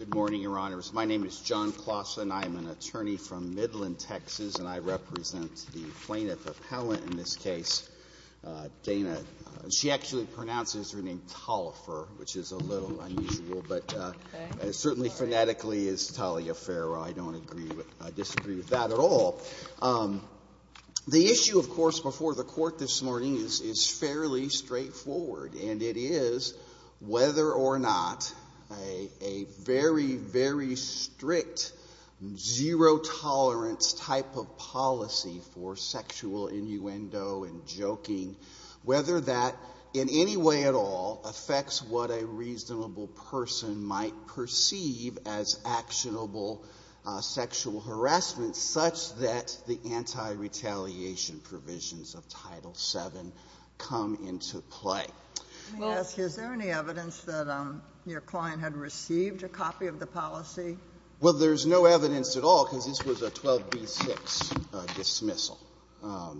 Good morning, Your Honors. My name is John Clausen. I am an attorney from Midland, Texas, and I represent the plaintiff appellant in this case, Dana. She actually pronounces her name Talifer, which is a little unusual, but certainly phonetically is Taliaferro. I don't agree with or disagree with that at all. The issue, of course, before the court this morning is fairly straightforward, and it is whether or not a very, very strict zero-tolerance type of policy for sexual innuendo and joking, whether that in any way at all affects what a lot of the anti-retaliation provisions of Title VII come into play. Let me ask you, is there any evidence that your client had received a copy of the policy? Well, there's no evidence at all, because this was a 12b-6 dismissal.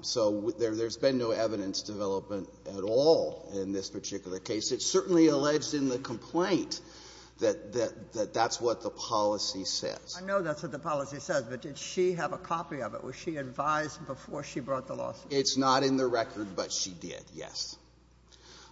So there's been no evidence development at all in this particular case. It's certainly alleged in the complaint that that's what the policy says. I know that's what the policy says. But did she have a copy of it? Was she advised before she brought the lawsuit? It's not in the record, but she did, yes.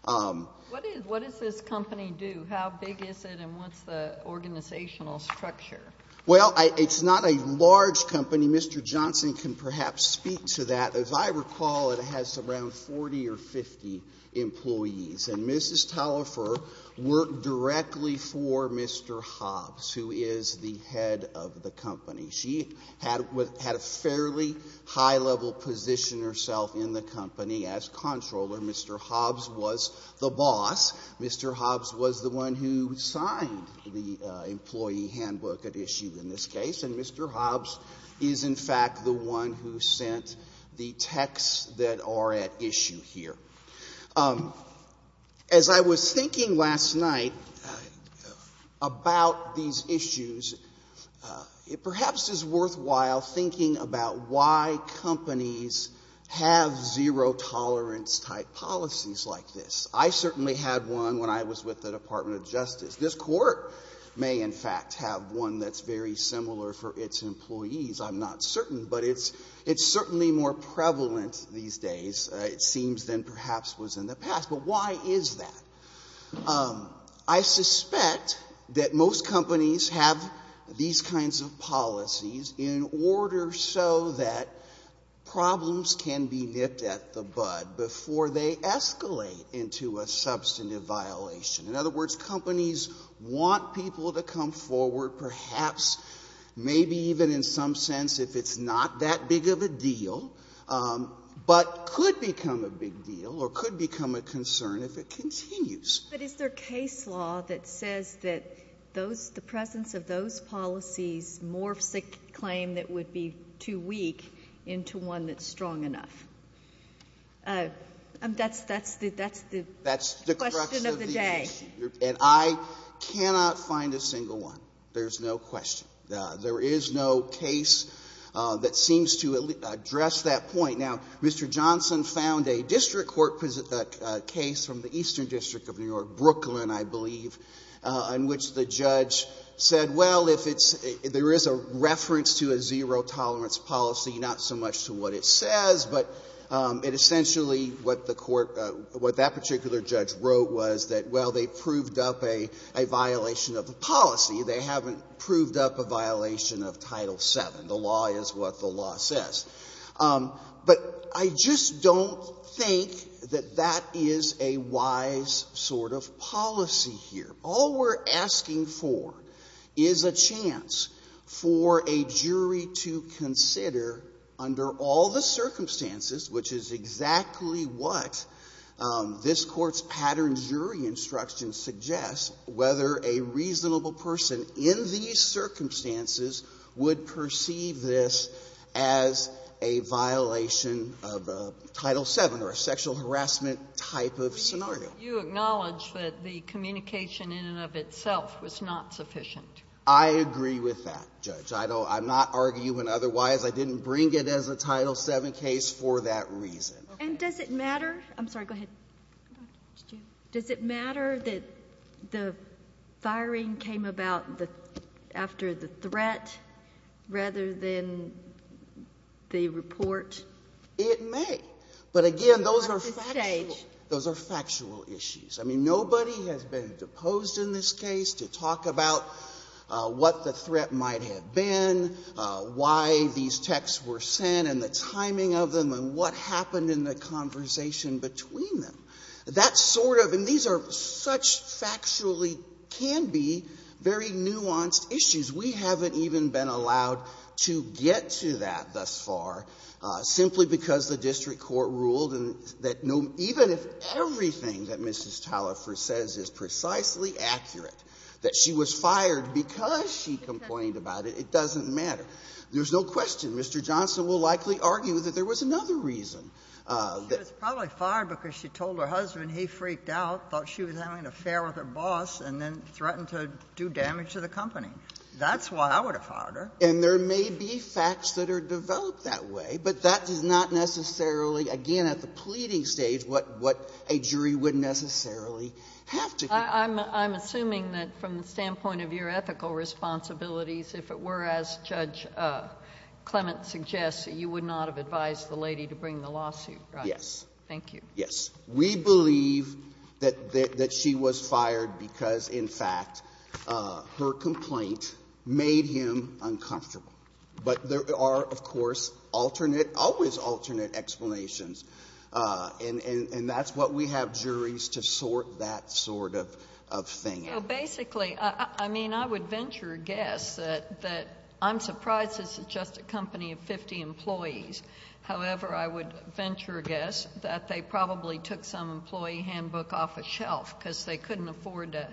What does this company do? How big is it, and what's the organizational structure? Well, it's not a large company. Mr. Johnson can perhaps speak to that. As I recall, it has around 40 or 50 employees. And Mrs. Talifer worked directly for Mr. Hobbs, who is the head of the company. She had a fairly high-level position herself in the company as controller. Mr. Hobbs was the boss. Mr. Hobbs was the one who signed the employee handbook at issue in this case. And Mr. Hobbs is, in fact, the one who sent the texts that are at issue here. As I was thinking last night about these issues, it perhaps is a little bit of a paradox that perhaps it's worthwhile thinking about why companies have zero-tolerance type policies like this. I certainly had one when I was with the Department of Justice. This Court may, in fact, have one that's very similar for its employees. I'm not certain, but it's certainly more prevalent these days, it seems, than perhaps was in the past. But why is that? I suspect that most companies have these kinds of policies in order so that problems can be nipped at the bud before they escalate into a substantive violation. In other words, companies want people to come forward, perhaps maybe even in some sense if it's not that big of a deal, but could become a big deal or could become a concern if it continues. But is there case law that says that those the presence of those policies morphs a claim that would be too weak into one that's strong enough? That's the question of the day. That's the crux of the issue. And I cannot find a single one. There's no question. There is no case that seems to address that point. Now, Mr. Johnson found a district court case from the Eastern District of New York, Brooklyn, I believe, in which the judge said, well, if it's — there is a reference to a zero-tolerance policy, not so much to what it says, but it essentially what the court — what that particular judge wrote was that, well, they proved up a violation of the policy. They haven't proved up a violation of Title VII. The law is what the law says. But I just don't think that that is a wise sort of policy here. All we're asking for is a chance for a jury to consider, under all the circumstances, which is exactly what this Court's pattern jury instruction suggests, whether a reasonable person in these circumstances would perceive this as a violation of Title VII or a sexual harassment type of scenario. Sotomayor, you acknowledge that the communication in and of itself was not sufficient. I agree with that, Judge. I'm not arguing otherwise. I didn't bring it as a Title VII case for that reason. And does it matter — I'm sorry, go ahead. Dr. Stewart. Does it matter that the firing came about after the threat rather than the report? It may. But again, those are factual — You're off the stage. Those are factual issues. I mean, nobody has been deposed in this case to talk about what the threat might have been, why these texts were sent, and the timing of them, and what happened in the conversation between them. That sort of — and these are such factually — can be very nuanced issues. We haven't even been allowed to get to that thus far, simply because the district court ruled that no — even if everything that Mrs. Talifer says is precisely accurate, that she was fired because she complained about it, it doesn't matter. There's no question Mr. Johnson will likely argue that there was another reason She was probably fired because she told her husband he freaked out, thought she was having an affair with her boss, and then threatened to do damage to the company. That's why I would have fired her. And there may be facts that are developed that way, but that is not necessarily — again, at the pleading stage, what a jury would necessarily have to do. I'm assuming that from the standpoint of your ethical responsibilities, if it were as Judge Clement suggests, you would not have advised the lady to bring the lawsuit, right? Yes. Thank you. Yes. We believe that she was fired because, in fact, her complaint made him uncomfortable. But there are, of course, alternate — always alternate explanations. And that's what we have juries to sort that sort of thing out. So basically, I mean, I would venture a guess that — I'm surprised this is just a company of 50 employees. However, I would venture a guess that they probably took some employee handbook off a shelf because they couldn't afford to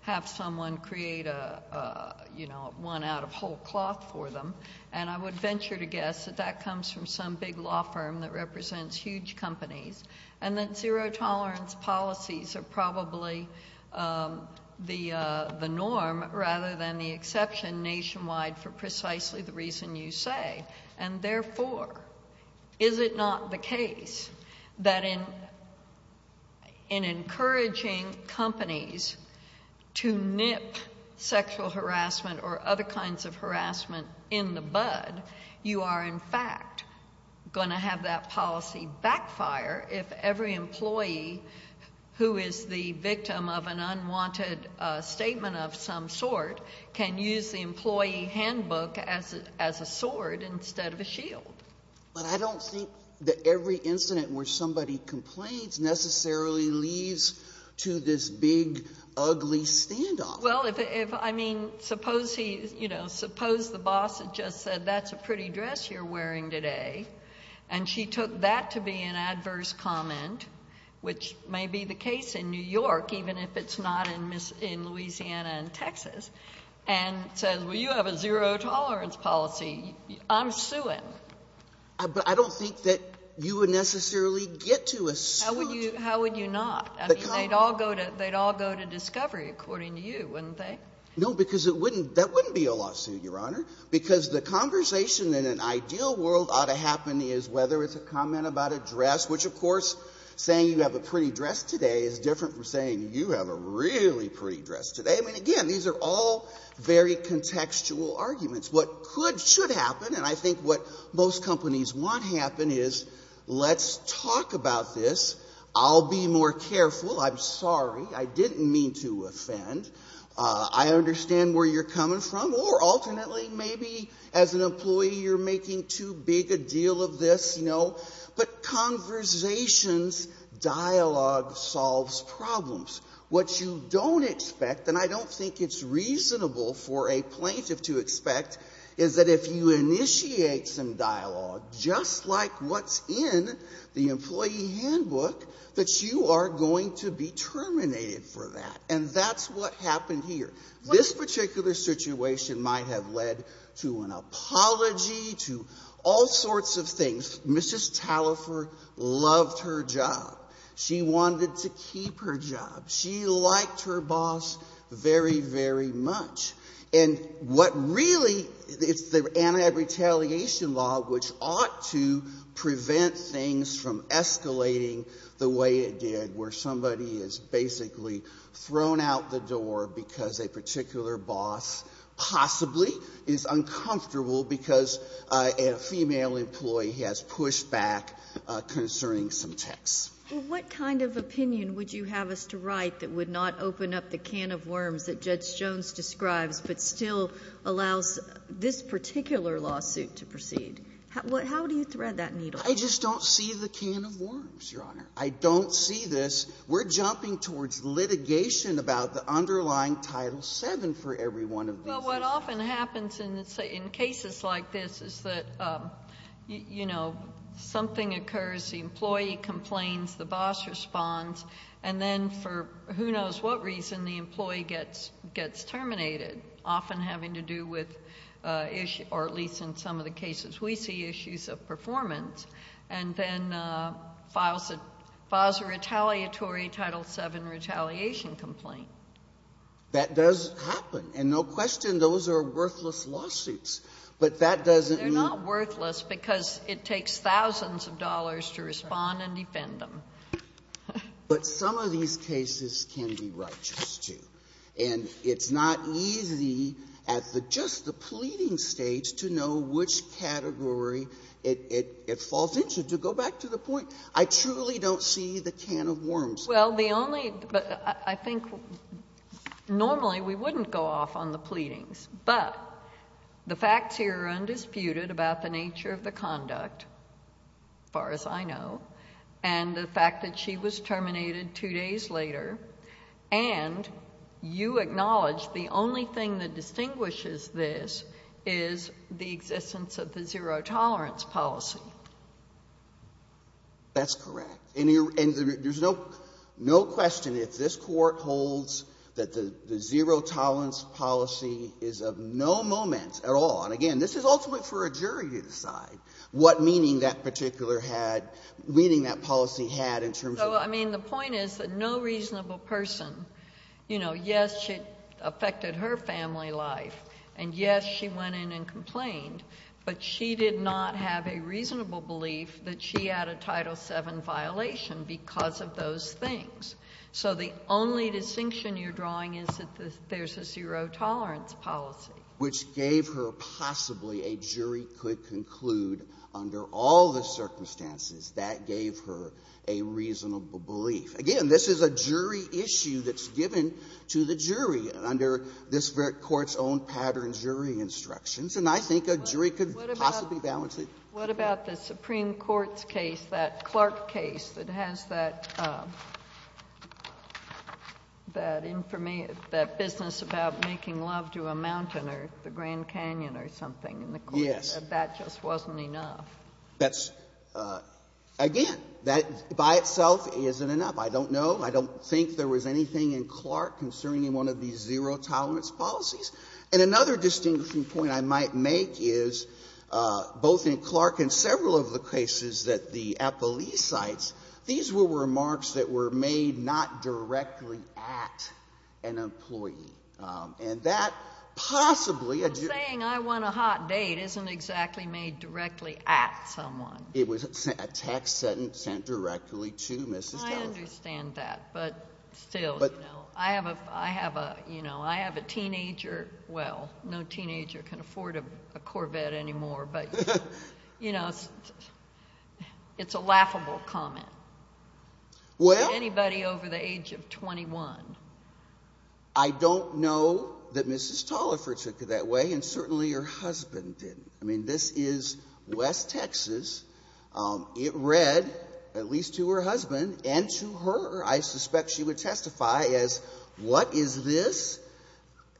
have someone create a, you know, one out of whole cloth for them. And I would venture to guess that that comes from some big law firm that represents huge companies. And that zero-tolerance policies are probably the norm rather than the exception nationwide for precisely the reason you say. And therefore, is it not the case that in encouraging companies to nip sexual harassment or other kinds of harassment in the bud, you are, in fact, going to have that policy backfire if every employee who is the victim of an unwanted statement of some sort can use the instead of a shield? But I don't think that every incident where somebody complains necessarily leads to this big, ugly standoff. Well, if — I mean, suppose he — you know, suppose the boss had just said, that's a pretty dress you're wearing today. And she took that to be an adverse comment, which may be the case in New York, even if it's not in Louisiana and Texas, and says, well, you have a zero-tolerance policy. I'm suing. But I don't think that you would necessarily get to a suit. How would you not? I mean, they'd all go to — they'd all go to discovery, according to you, wouldn't they? No, because it wouldn't — that wouldn't be a lawsuit, Your Honor, because the conversation in an ideal world ought to happen is whether it's a comment about a dress, which, of course, saying you have a pretty dress today is different from saying you have a really pretty dress today. I mean, again, these are all very contextual arguments. What could — should happen, and I think what most companies want to happen is, let's talk about this. I'll be more careful. I'm sorry. I didn't mean to offend. I understand where you're coming from. Or alternately, maybe as an employee, you're making too big a deal of this, you know. But conversations, dialogue solves problems. What you don't expect, and I don't think it's reasonable for a plaintiff to expect, is that if you initiate some dialogue, just like what's in the employee handbook, that you are going to be terminated for that. And that's what happened here. This particular situation might have led to an apology, to all sorts of things. Mrs. Talifer loved her job. She wanted to keep her job. She liked her boss very, very much. And what really — it's the anti-retaliation law, which ought to prevent things from escalating the way it did, where somebody is basically thrown out the door because a particular boss possibly is uncomfortable because a female employee has pushed back concerning some texts. Well, what kind of opinion would you have us to write that would not open up the can of worms that Judge Jones describes, but still allows this particular lawsuit to proceed? How do you thread that needle? I just don't see the can of worms, Your Honor. I don't see this. We're jumping towards litigation about the underlying Title VII for every one of these cases. Well, what often happens in cases like this is that, you know, something occurs, the employee complains, the boss responds, and then for who knows what reason, the employee gets terminated, often having to do with — or at least in some of the cases we see issues of performance, and then files a retaliatory Title VII retaliation complaint. That does happen. And no question, those are worthless lawsuits. But that doesn't mean — They're not worthless because it takes thousands of dollars to respond and defend them. But some of these cases can be righteous, too. And it's not easy at the — just the pleading stage to know which category it falls into. To go back to the point, I truly don't see the can of worms. Well, the only — I think normally we wouldn't go off on the pleadings. But the facts here are undisputed about the nature of the conduct, as far as I know, and the fact that she was terminated two days later, and you acknowledge the only thing that distinguishes this is the existence of the zero-tolerance policy. That's correct. And there's no question if this Court holds that the zero-tolerance policy is of no moment at all — and again, this is ultimately for a jury to decide what meaning that particular had — meaning that policy had in terms of — So, I mean, the point is that no reasonable person — you know, yes, it affected her family life, and yes, she went in and complained, but she did not have a reasonable belief that she had a Title VII violation because of those things. So the only distinction you're drawing is that there's a zero-tolerance policy. Which gave her possibly a jury could conclude under all the circumstances that gave her a reasonable belief. Again, this is a jury issue that's given to the jury under this Court's own pattern jury instructions, and I think a jury could possibly balance it. What about the Supreme Court's case, that Clark case, that has that — that information — that business about making love to a mountain or the Grand Canyon or something in the Court? Yes. That just wasn't enough. That's — again, that by itself isn't enough. I don't know. I don't think there was anything in Clark concerning one of these zero-tolerance policies. And another distinguishing point I might make is, both in Clark and several of the cases that the appellee cites, these were remarks that were made not directly at an employee. And that possibly — But saying I want a hot date isn't exactly made directly at someone. It was a text sent directly to Mrs. Dellinger. I understand that. But still, you know, I have a — you know, I have a teenager — well, no teenager can afford a Corvette anymore, but, you know, it's a laughable comment. Well — To anybody over the age of 21. I don't know that Mrs. Tolliver took it that way, and certainly her husband didn't. I mean, this is West Texas. It read, at least to her husband and to her, I suspect she would testify, as, what is this?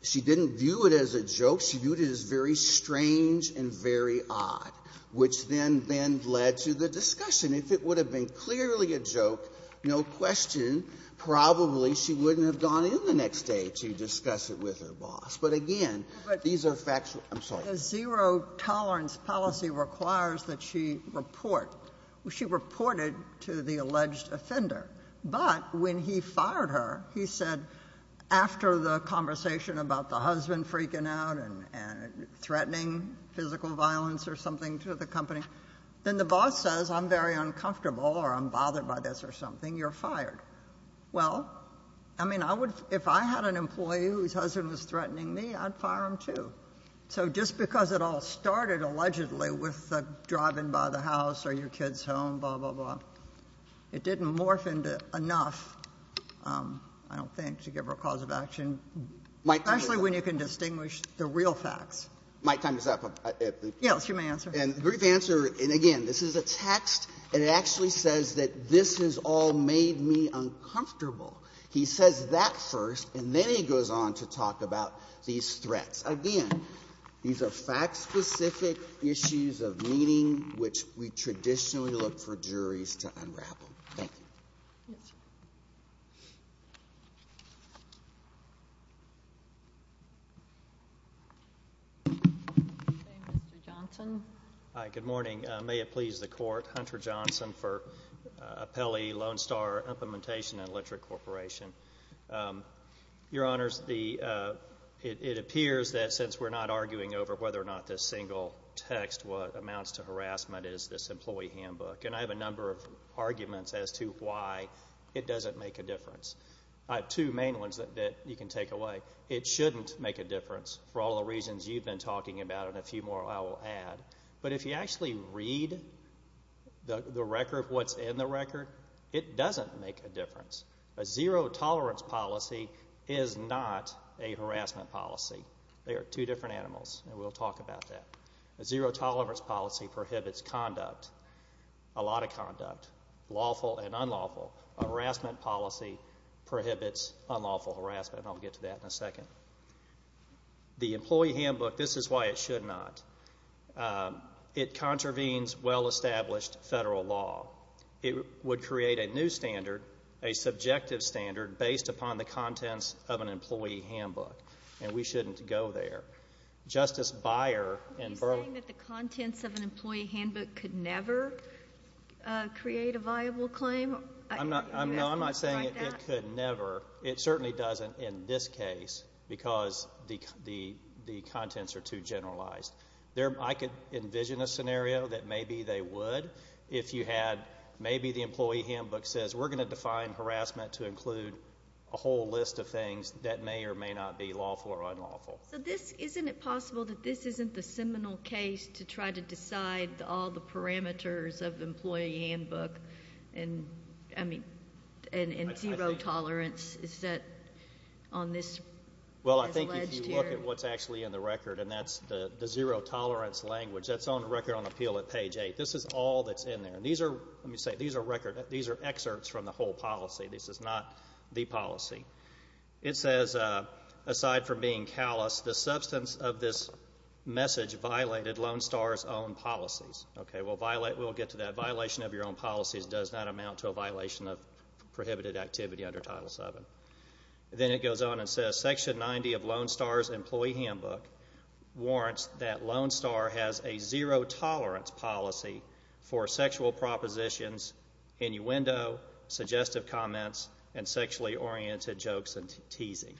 She didn't view it as a joke. She viewed it as very strange and very odd, which then led to the discussion. If it would have been clearly a joke, no question, probably she wouldn't have gone in the next day to discuss it with her boss. But again, these are factual — I'm sorry. The zero-tolerance policy requires that she report — she reported to the alleged offender. But when he fired her, he said, after the conversation about the husband freaking out and threatening physical violence or something to the company, then the boss says, I'm very uncomfortable or I'm bothered by this or something, you're fired. Well, I mean, I would — if I had an employee whose husband was threatening me, I'd fire him, too. So just because it all started, allegedly, with the driving by the house or your kid's own, blah, blah, blah, it didn't morph into enough, I don't think, to give her a cause of action, especially when you can distinguish the real facts. My time is up. Yes, you may answer. And the brief answer — and again, this is a text, and it actually says that this has all made me uncomfortable. He says that first, and then he goes on to talk about these threats. Again, these are fact-specific issues of meaning, which we traditionally look for juries to unravel. Thank you. Yes, sir. Mr. Johnson. Hi. Good morning. May it please the Court. Hunter Johnson for Apelli Lone Star Implementation and Literate Corporation. Your Honors, it appears that, since we're not arguing over whether or not this single text amounts to harassment, is this employee handbook. And I have a number of arguments as to why it doesn't make a difference. I have two main ones that you can take away. It shouldn't make a difference, for all the reasons you've been talking about and a few more I will add. But if you actually read the record, what's in the record, it doesn't make a difference. A zero-tolerance policy is not a harassment policy. They are two different animals, and we'll talk about that. A zero-tolerance policy prohibits conduct, a lot of conduct, lawful and unlawful. A harassment policy prohibits unlawful harassment, and I'll get to that in a second. The employee handbook, this is why it should not. It contravenes well-established federal law. It would create a new standard, a subjective standard, based upon the contents of an employee handbook, and we shouldn't go there. Justice Beyer in Burlington... Are you saying that the contents of an employee handbook could never create a viable claim? I'm not saying it could never. It certainly doesn't in this case because the contents are too generalized. I could envision a scenario that maybe they would if you had... maybe the employee handbook says, we're going to define harassment to include a whole list of things that may or may not be lawful or unlawful. So, isn't it possible that this isn't the seminal case to try to decide all the parameters of employee handbook and zero-tolerance is set on this alleged here... Zero-tolerance language. That's on the record on appeal at page eight. This is all that's in there. And these are... let me say, these are records. These are excerpts from the whole policy. This is not the policy. It says, aside from being callous, the substance of this message violated Lone Star's own policies. Okay, we'll violate... we'll get to that. Violation of your own policies does not amount to a violation of prohibited activity under Title VII. Then it goes on and says, Section 90 of Lone Star's employee handbook warrants that Lone Star has a zero-tolerance policy for sexual propositions, innuendo, suggestive comments, and sexually-oriented jokes and teasing.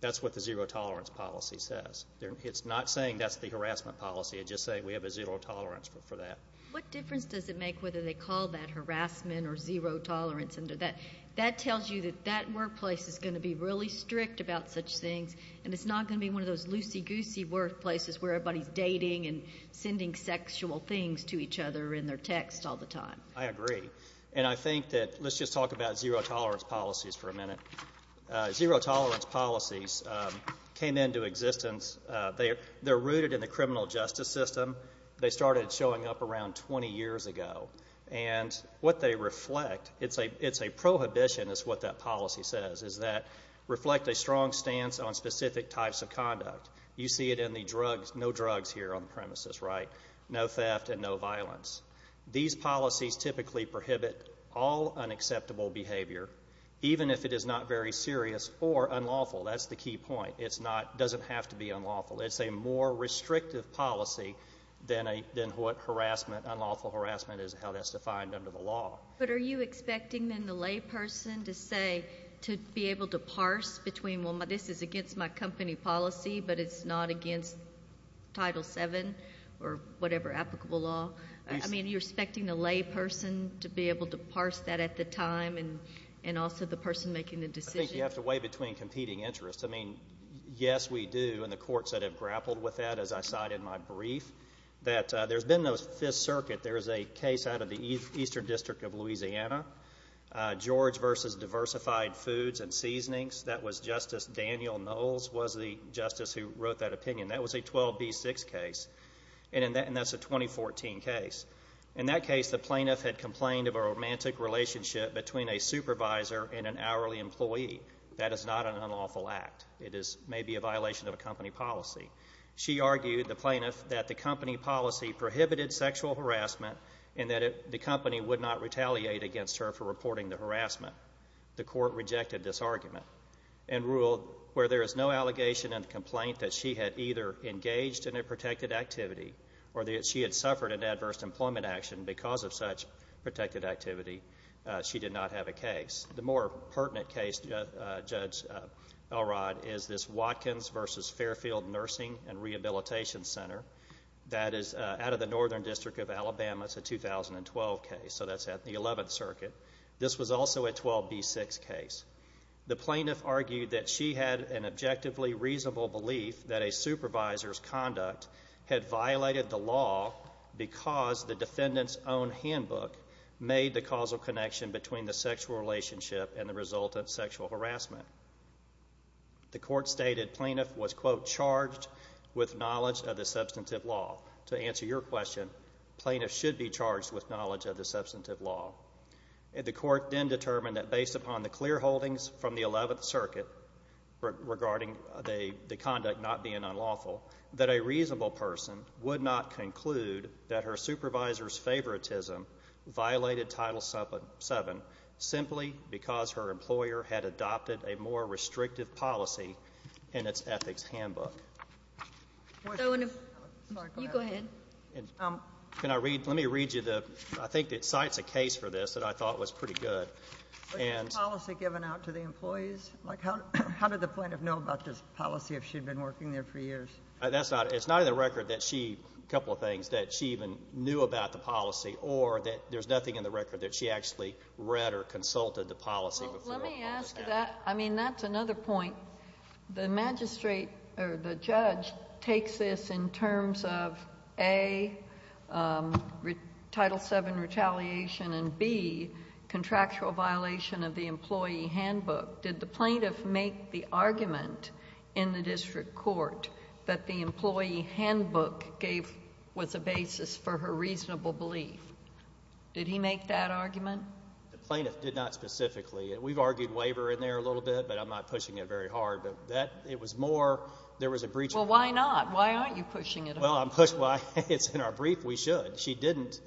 That's what the zero-tolerance policy says. It's not saying that's the harassment policy. It's just saying we have a zero-tolerance for that. What difference does it make whether they call that harassment or zero-tolerance under that? That tells you that that workplace is going to be really strict about such things, and it's not going to be one of those loosey-goosey workplaces where everybody's dating and sending sexual things to each other in their text all the time. I agree. And I think that... let's just talk about zero-tolerance policies for a minute. Zero-tolerance policies came into existence... they're rooted in the criminal justice system. They started showing up around 20 years ago. And what they reflect... it's a prohibition, is what that policy says, is that reflect a strong stance on specific types of conduct. You see it in the drugs. No drugs here on the premises, right? No theft and no violence. These policies typically prohibit all unacceptable behavior, even if it is not very serious or unlawful. That's the key point. It's not... doesn't have to be unlawful. It's a more restrictive policy than what harassment, unlawful harassment, is how that's defined under the law. But are you expecting, then, the layperson to say... to be able to parse between, well, this is against my company policy, but it's not against Title VII or whatever applicable law? I mean, you're expecting the layperson to be able to parse that at the time and also the person making the decision? I think you have to weigh between competing interests. I mean, yes, we do. And the courts that have grappled with that, as I cite in my brief, that there's been those Fifth Circuit. There's a case out of the Eastern District of Louisiana, George v. Diversified Foods and Seasonings. That was Justice Daniel Knowles was the justice who wrote that opinion. That was a 12B6 case. And that's a 2014 case. In that case, the plaintiff had complained of a romantic relationship between a supervisor and an hourly employee. That is not an unlawful act. It is maybe a violation of a company policy. She argued, the plaintiff, that the company policy prohibited sexual harassment and that the company would not retaliate against her for reporting the harassment. The court rejected this argument and ruled where there is no allegation in the complaint that she had either engaged in a protected activity or that she had suffered an adverse employment action because of such protected activity, she did not have a case. The more pertinent case, Judge Elrod, is this Watkins v. Fairfield Nursing and Rehabilitation Center. That is out of the Northern District of Alabama. It's a 2012 case. So that's at the Eleventh Circuit. This was also a 12B6 case. The plaintiff argued that she had an objectively reasonable belief that a supervisor's conduct had violated the law because the defendant's own handbook made the causal connection between the sexual relationship and the resultant sexual harassment. The court stated plaintiff was, quote, charged with knowledge of the substantive law. To answer your question, plaintiff should be charged with knowledge of the substantive law. The court then determined that based upon the clear holdings from the Eleventh Circuit regarding the conduct not being unlawful, that a reasonable person would not conclude that her supervisor's favoritism violated Title VII simply because her employer had adopted a more restrictive policy in its ethics handbook. Can I read, let me read you the, I think it cites a case for this that I thought was pretty good. Was this policy given out to the employees? Like, how did the plaintiff know about this policy if she'd been working there for years? That's not, it's not in the record that she, a couple of things, that she even knew about the policy or that there's nothing in the record that she actually read or consulted the policy before. Let me ask that. I mean, that's another point. The magistrate or the judge takes this in terms of A, Title VII retaliation and B, contractual violation of the employee handbook. Did the plaintiff make the argument in the district court that the employee handbook gave was a basis for her reasonable belief? Did he make that argument? The plaintiff did not specifically. We've argued waiver in there a little bit, but I'm not pushing it very hard. But that, it was more, there was a breach. Well, why not? Why aren't you pushing it? Well, I'm pushed by, it's in our brief, we should. She didn't,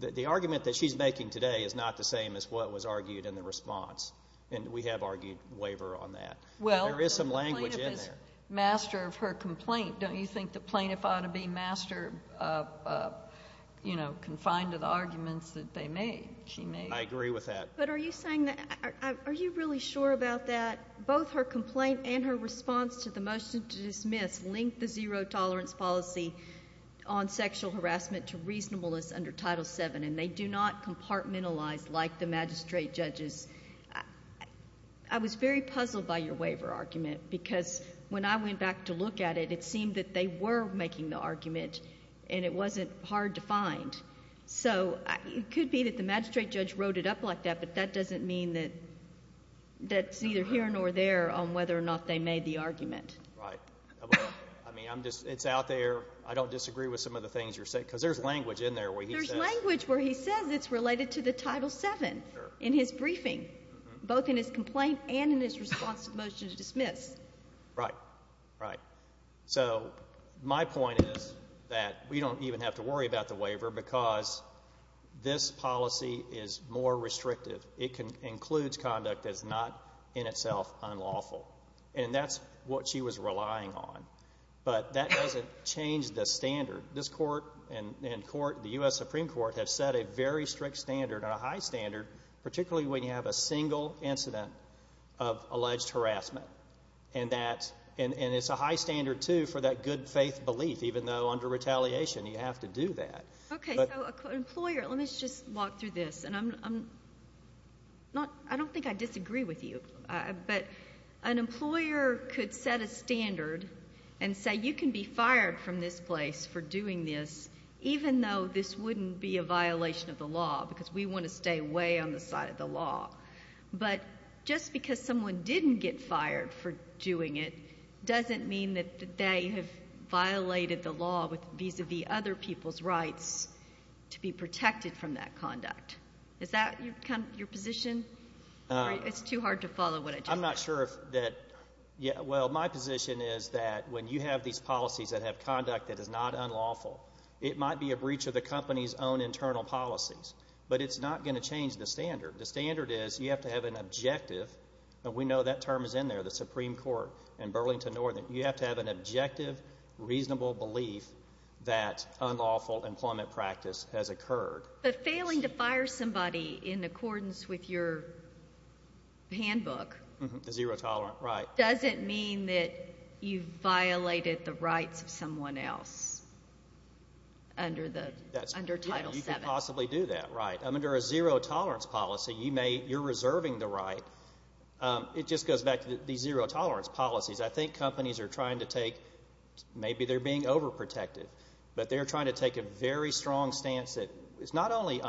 the argument that she's making today is not the same as what was argued in the response. And we have argued waiver on that. Well, the plaintiff is master of her complaint. Don't you think the plaintiff ought to be master, you know, confined to the arguments that they made, she made? I agree with that. But are you saying that, are you really sure about that? Both her complaint and her response to the motion to dismiss link the zero tolerance policy on sexual harassment to reasonableness under Title VII, and they do not compartmentalize like the magistrate judges. I was very puzzled by your waiver argument, because when I went back to look at it, it seemed that they were making the argument, and it wasn't hard to find. So it could be that the magistrate judge wrote it up like that, but that doesn't mean that that's neither here nor there on whether or not they made the argument. Right. I mean, I'm just, it's out there. I don't disagree with some of the things you're saying, because there's language in there where he says. There's language where he says it's related to the Title VII in his briefing, both in his complaint and in his response to the motion to dismiss. Right, right. So my point is that we don't even have to worry about the waiver, because this policy is more restrictive. It includes conduct that's not in itself unlawful, and that's what she was relying on. But that doesn't change the standard. This Court and the U.S. Supreme Court have set a very strict standard, a high standard, particularly when you have a single incident of alleged harassment. And it's a high standard, too, for that good faith belief, even though under retaliation you have to do that. Okay, so an employer, let me just walk through this. I don't think I disagree with you, but an employer could set a standard and say you can be fired from this place for doing this, even though this wouldn't be a violation of the law, because we want to stay way on the side of the law. But just because someone didn't get fired for doing it doesn't mean that they have violated the law vis-a-vis other people's rights to be protected from that conduct. Is that your position? It's too hard to follow what I just said. Yeah, well, my position is that when you have these policies that have conduct that is not unlawful, it might be a breach of the company's own internal policies, but it's not going to change the standard. The standard is you have to have an objective, and we know that term is in there, the Supreme Court and Burlington Northern. You have to have an objective, reasonable belief that unlawful employment practice has occurred. But failing to fire somebody in accordance with your handbook. The zero-tolerant, right. Doesn't mean that you violated the rights of someone else under Title VII. You could possibly do that, right. Under a zero-tolerance policy, you're reserving the right. It just goes back to these zero-tolerance policies. I think companies are trying to take, maybe they're being overprotective, but they're trying to take a very strong stance that is not only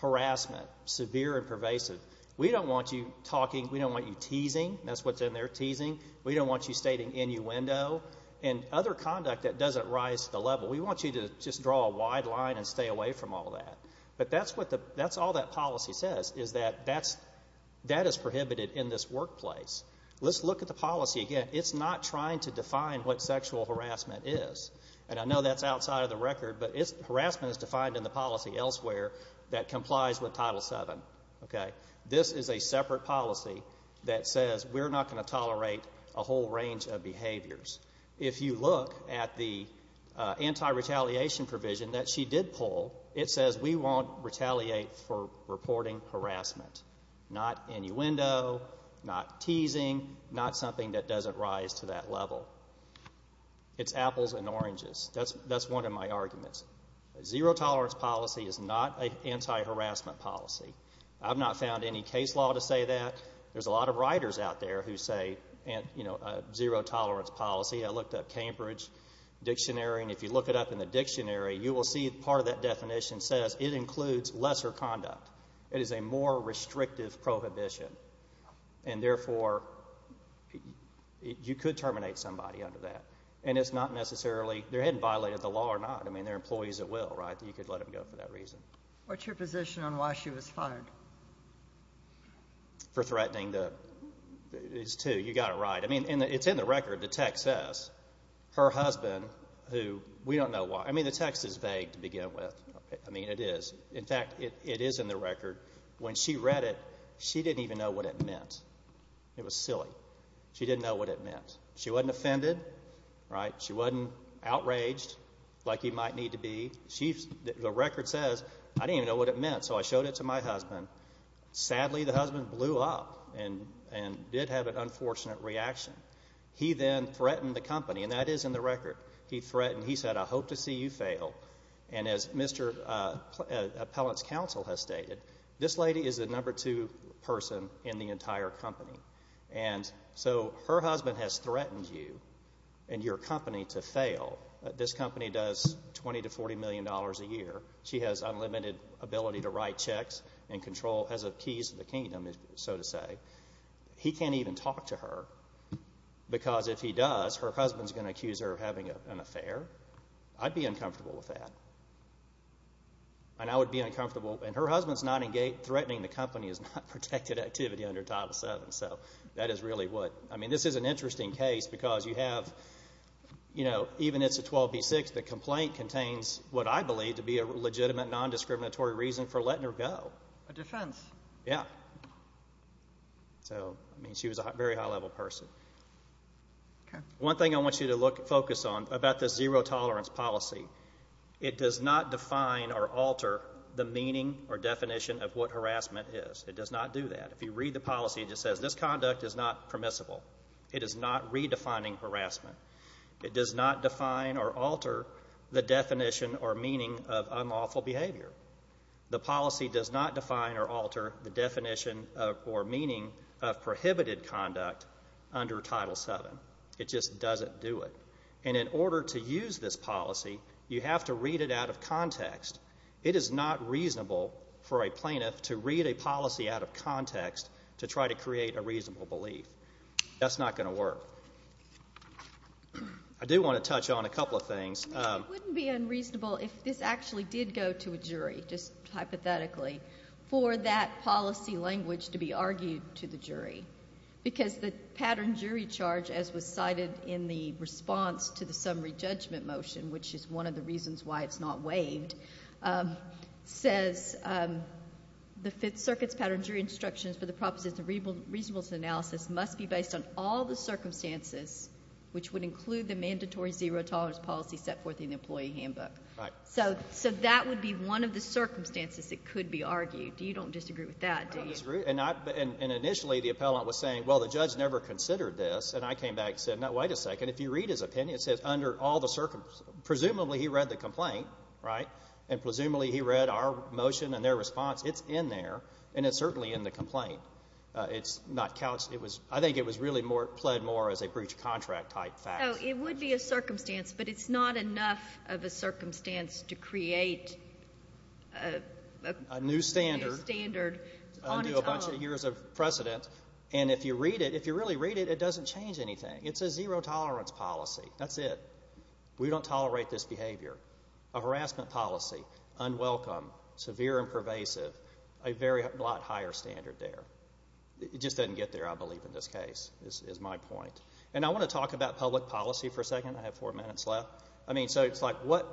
harassment, severe and pervasive. We don't want you talking, we don't want you teasing. That's what's in there, teasing. We don't want you stating innuendo and other conduct that doesn't rise to the level. We want you to just draw a wide line and stay away from all that. But that's what the, that's all that policy says, is that that's, that is prohibited in this workplace. Let's look at the policy again. It's not trying to define what sexual harassment is. And I know that's outside of the record, but it's, harassment is defined in the policy elsewhere that complies with Title VII. Okay? This is a separate policy that says we're not going to tolerate a whole range of behaviors. If you look at the anti-retaliation provision that she did pull, it says we won't retaliate for reporting harassment. Not innuendo, not teasing, not something that doesn't rise to that level. It's apples and oranges. That's, that's one of my arguments. Zero-tolerance policy is not an anti-harassment policy. I've not found any case law to say that. There's a lot of writers out there who say, you know, zero-tolerance policy. I looked up Cambridge Dictionary, and if you look it up in the dictionary, you will see part of that definition says it includes lesser conduct. It is a more restrictive prohibition. And therefore, you could terminate somebody under that. And it's not necessarily, they're hadn't violated the law or not. They're employees at will, right? You could let them go for that reason. What's your position on why she was fired? For threatening the, it's two, you got it right. I mean, it's in the record. The text says, her husband, who, we don't know why. I mean, the text is vague to begin with. I mean, it is. In fact, it is in the record. When she read it, she didn't even know what it meant. It was silly. She didn't know what it meant. She wasn't offended, right? She, the record says, I didn't even know what it meant. So I showed it to my husband. Sadly, the husband blew up and did have an unfortunate reaction. He then threatened the company, and that is in the record. He threatened, he said, I hope to see you fail. And as Mr. Appellant's counsel has stated, this lady is the number two person in the entire company. And so her husband has threatened you and your company to fail. This company does $20 to $40 million a year. She has unlimited ability to write checks and control, has the keys to the kingdom, so to say. He can't even talk to her, because if he does, her husband's going to accuse her of having an affair. I'd be uncomfortable with that. And I would be uncomfortable, and her husband's not engaged, threatening the company is not protected activity under Title VII. So that is really what, I mean, this is an interesting case, because you have, you know, even if it's a 12B6, the complaint contains what I believe to be a legitimate, non-discriminatory reason for letting her go. A defense. Yeah. So, I mean, she was a very high-level person. One thing I want you to look, focus on about this zero-tolerance policy, it does not define or alter the meaning or definition of what harassment is. It does not do that. If you read the policy, it just says this conduct is not permissible. It is not redefining harassment. It does not define or alter the definition or meaning of unlawful behavior. The policy does not define or alter the definition or meaning of prohibited conduct under Title VII. It just doesn't do it. And in order to use this policy, you have to read it out of context. It is not reasonable for a plaintiff to read a policy out of context to try to create a reasonable belief. That's not going to work. I do want to touch on a couple of things. It wouldn't be unreasonable if this actually did go to a jury, just hypothetically, for that policy language to be argued to the jury. Because the pattern jury charge, as was cited in the response to the summary judgment motion, which is one of the reasons why it's not waived, says the Fifth Circuit's pattern jury instructions for the propositions of reasonableness analysis must be based on all the mandatory zero tolerance policies set forth in the employee handbook. So that would be one of the circumstances it could be argued. You don't disagree with that, do you? I don't disagree. And initially, the appellant was saying, well, the judge never considered this. And I came back and said, no, wait a second. If you read his opinion, it says under all the circumstances. Presumably, he read the complaint, right? And presumably, he read our motion and their response. It's in there. And it's certainly in the complaint. It's not couched. I think it was really pled more as a breach of contract type fact. No, it would be a circumstance. But it's not enough of a circumstance to create a new standard on its own. A new standard under a bunch of years of precedent. And if you read it, if you really read it, it doesn't change anything. It's a zero tolerance policy. That's it. We don't tolerate this behavior. A harassment policy. Unwelcome. Severe and pervasive. A lot higher standard there. It just doesn't get there, I believe, in this case, is my point. And I want to talk about public policy for a second. I have four minutes left. I mean, so it's like, what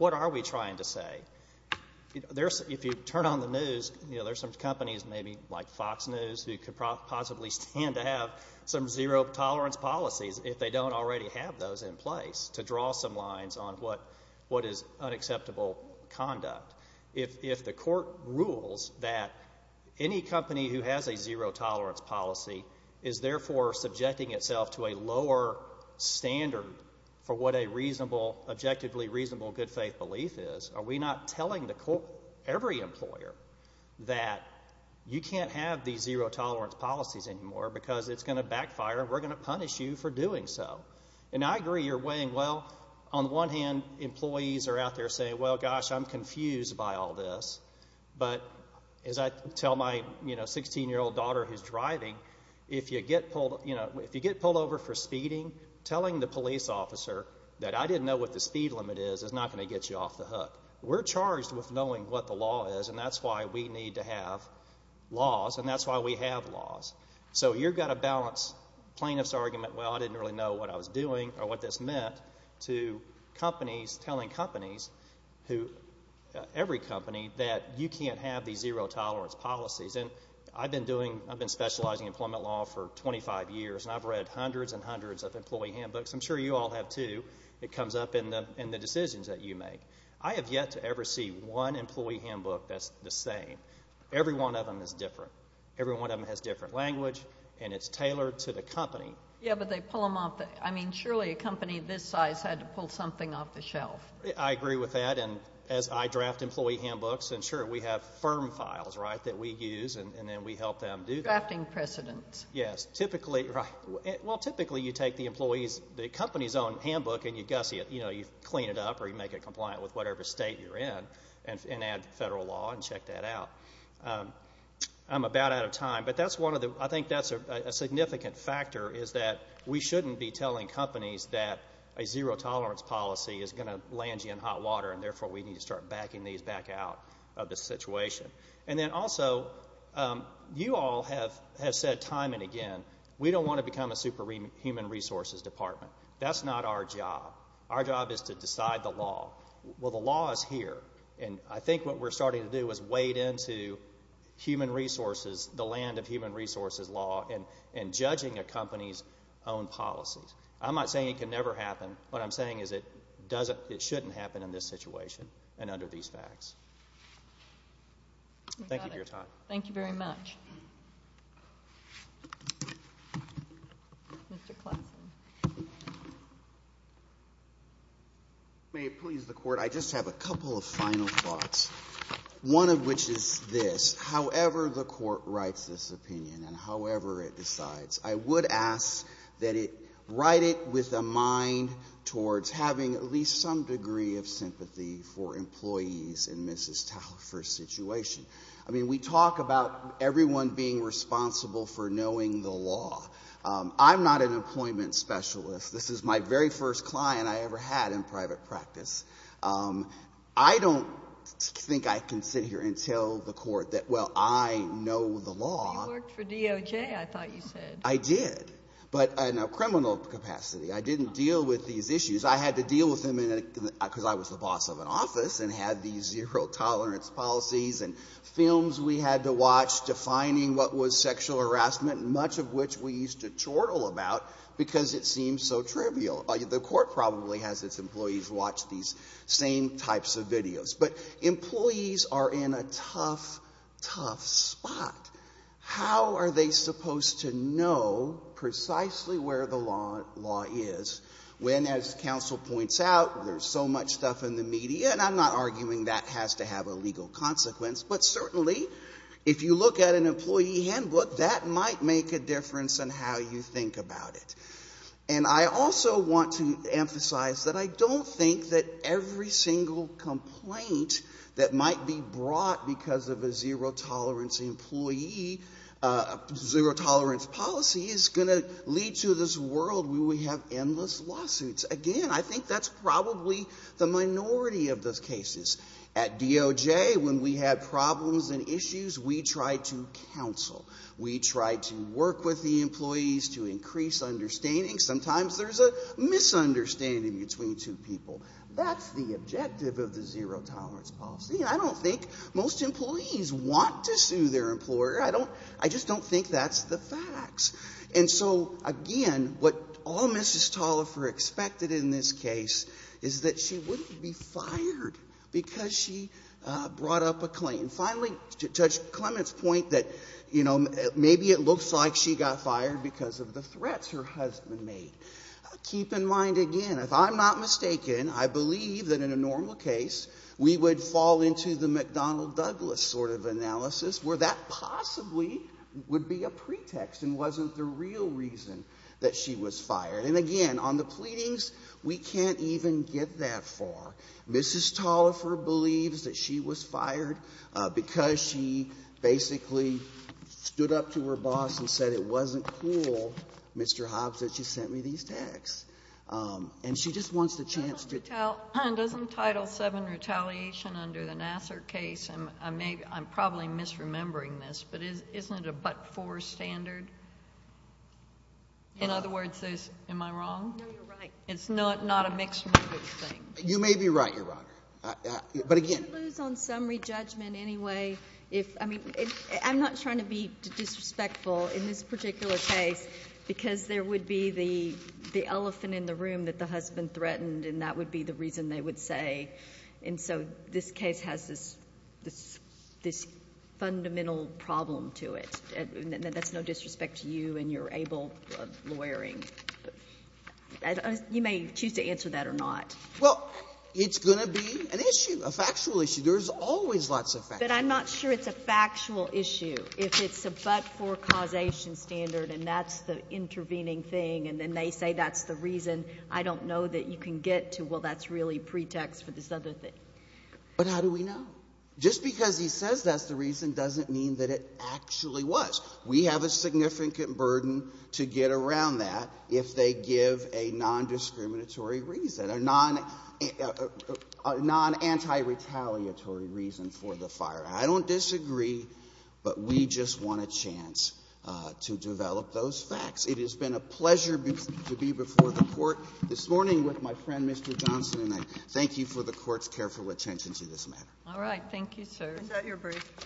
are we trying to say? If you turn on the news, there's some companies, maybe like Fox News, who could possibly stand to have some zero tolerance policies if they don't already have those in place to draw some lines on what is unacceptable conduct. If the court rules that any company who has a zero tolerance policy is therefore subjecting itself to a lower standard for what a reasonable, objectively reasonable good faith belief is, are we not telling the court, every employer, that you can't have these zero tolerance policies anymore because it's going to backfire and we're going to punish you for doing so? And I agree, you're weighing, well, on the one hand, employees are out there saying, well, gosh, I'm confused by all this. But as I tell my, you know, 16-year-old daughter who's driving, if you get pulled, you know, if you get pulled over for speeding, telling the police officer that I didn't know what the speed limit is is not going to get you off the hook. We're charged with knowing what the law is and that's why we need to have laws and that's why we have laws. So you've got to balance plaintiff's argument, well, I didn't really know what I was doing or what this meant, to companies telling companies who, every company, that you can't have these zero tolerance policies. And I've been doing, I've been specializing in employment law for 25 years and I've read hundreds and hundreds of employee handbooks. I'm sure you all have too. It comes up in the decisions that you make. I have yet to ever see one employee handbook that's the same. Every one of them is different. Every one of them has different language and it's tailored to the company. Yeah, but they pull them off. I mean, surely a company this size had to pull something off the shelf. I agree with that. And as I draft employee handbooks, and sure, we have firm files, right, that we use and then we help them do that. Drafting precedents. Yes. Typically, well, typically you take the employee's, the company's own handbook and you gussy it, you know, you clean it up or you make it compliant with whatever state you're in and add federal law and check that out. I'm about out of time, but that's one of the, I think that's a significant factor is that we shouldn't be telling companies that a zero tolerance policy is going to land you in hot water and therefore we need to start backing these back out of the situation. And then also, you all have said time and again, we don't want to become a super human resources department. That's not our job. Our job is to decide the law. Well, the law is here. And I think what we're starting to do is wade into human resources, the company's own policies. I'm not saying it can never happen. What I'm saying is it doesn't, it shouldn't happen in this situation and under these facts. Thank you for your time. Thank you very much. May it please the court. I just have a couple of final thoughts. One of which is this, however the court writes this opinion and however it would ask that it write it with a mind towards having at least some degree of sympathy for employees in Mrs. Talafer's situation. I mean, we talk about everyone being responsible for knowing the law. I'm not an employment specialist. This is my very first client I ever had in private practice. I don't think I can sit here and tell the court that, well, I know the law. You worked for DOJ, I thought you said. I did, but in a criminal capacity. I didn't deal with these issues. I had to deal with them because I was the boss of an office and had these zero tolerance policies and films we had to watch defining what was sexual harassment, much of which we used to chortle about because it seemed so trivial. The court probably has its employees watch these same types of videos. But employees are in a tough, tough spot. How are they supposed to know precisely where the law is when, as counsel points out, there's so much stuff in the media, and I'm not arguing that has to have a legal consequence, but certainly, if you look at an employee handbook, that might make a difference in how you think about it. And I also want to emphasize that I don't think that every single complaint that might be brought because of a zero tolerance policy is going to lead to this world where we have endless lawsuits. Again, I think that's probably the minority of those cases. At DOJ, when we have problems and issues, we try to counsel. We try to work with the employees to increase understanding. Sometimes there's a misunderstanding between two people. That's the objective of the zero tolerance policy. I don't think most employees want to sue their employer. I just don't think that's the facts. And so, again, what all Mrs. Tolliver expected in this case is that she wouldn't be fired because she brought up a claim. Finally, Judge Clement's point that, you know, maybe it looks like she got fired because of the threats her husband made. Keep in mind, again, if I'm not mistaken, I believe that in a normal case, we would fall into the McDonnell Douglas sort of analysis where that possibly would be a pretext and wasn't the real reason that she was fired. And, again, on the pleadings, we can't even get that far. Mrs. Tolliver believes that she was fired because she basically stood up to her boss and said it wasn't cool, Mr. Hobbs, that you sent me these texts. And she just wants the chance to tell. JUSTICE GINSBURG Doesn't Title VII retaliation under the Nassar case, and I'm probably misremembering this, but isn't it a but-for standard? In other words, am I wrong? JUSTICE GINSBURG No, you're right. JUSTICE GINSBURG It's not a mixed-motive thing. JUSTICE BREYER You may be right, Your Honor. But, again. JUSTICE GINSBURG What would you lose on summary judgment anyway if, I mean, I'm not trying to be disrespectful. In this particular case, because there would be the elephant in the room that the husband threatened, and that would be the reason they would say. And so this case has this fundamental problem to it. That's no disrespect to you and your able lawyering. You may choose to answer that or not. JUSTICE SOTOMAYOR Well, it's going to be an issue, a factual issue. There's always lots of facts. If it's a but-for causation standard, and that's the intervening thing, and then they say that's the reason, I don't know that you can get to, well, that's really pretext for this other thing. JUSTICE BREYER But how do we know? Just because he says that's the reason doesn't mean that it actually was. We have a significant burden to get around that if they give a non-discriminatory reason, a non-anti-retaliatory reason for the fire. I don't disagree, but we just want a chance to develop those facts. It has been a pleasure to be before the Court this morning with my friend, Mr. Johnson, and I thank you for the Court's careful attention to this matter. JUSTICE GINSBURG All right. Thank you, sir. JUSTICE KAGAN Is that your brief? JUSTICE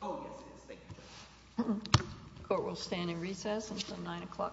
BREYER Oh, yes, it is. Thank you, Justice. JUSTICE GINSBURG The Court will stand in recess until 9 o'clock.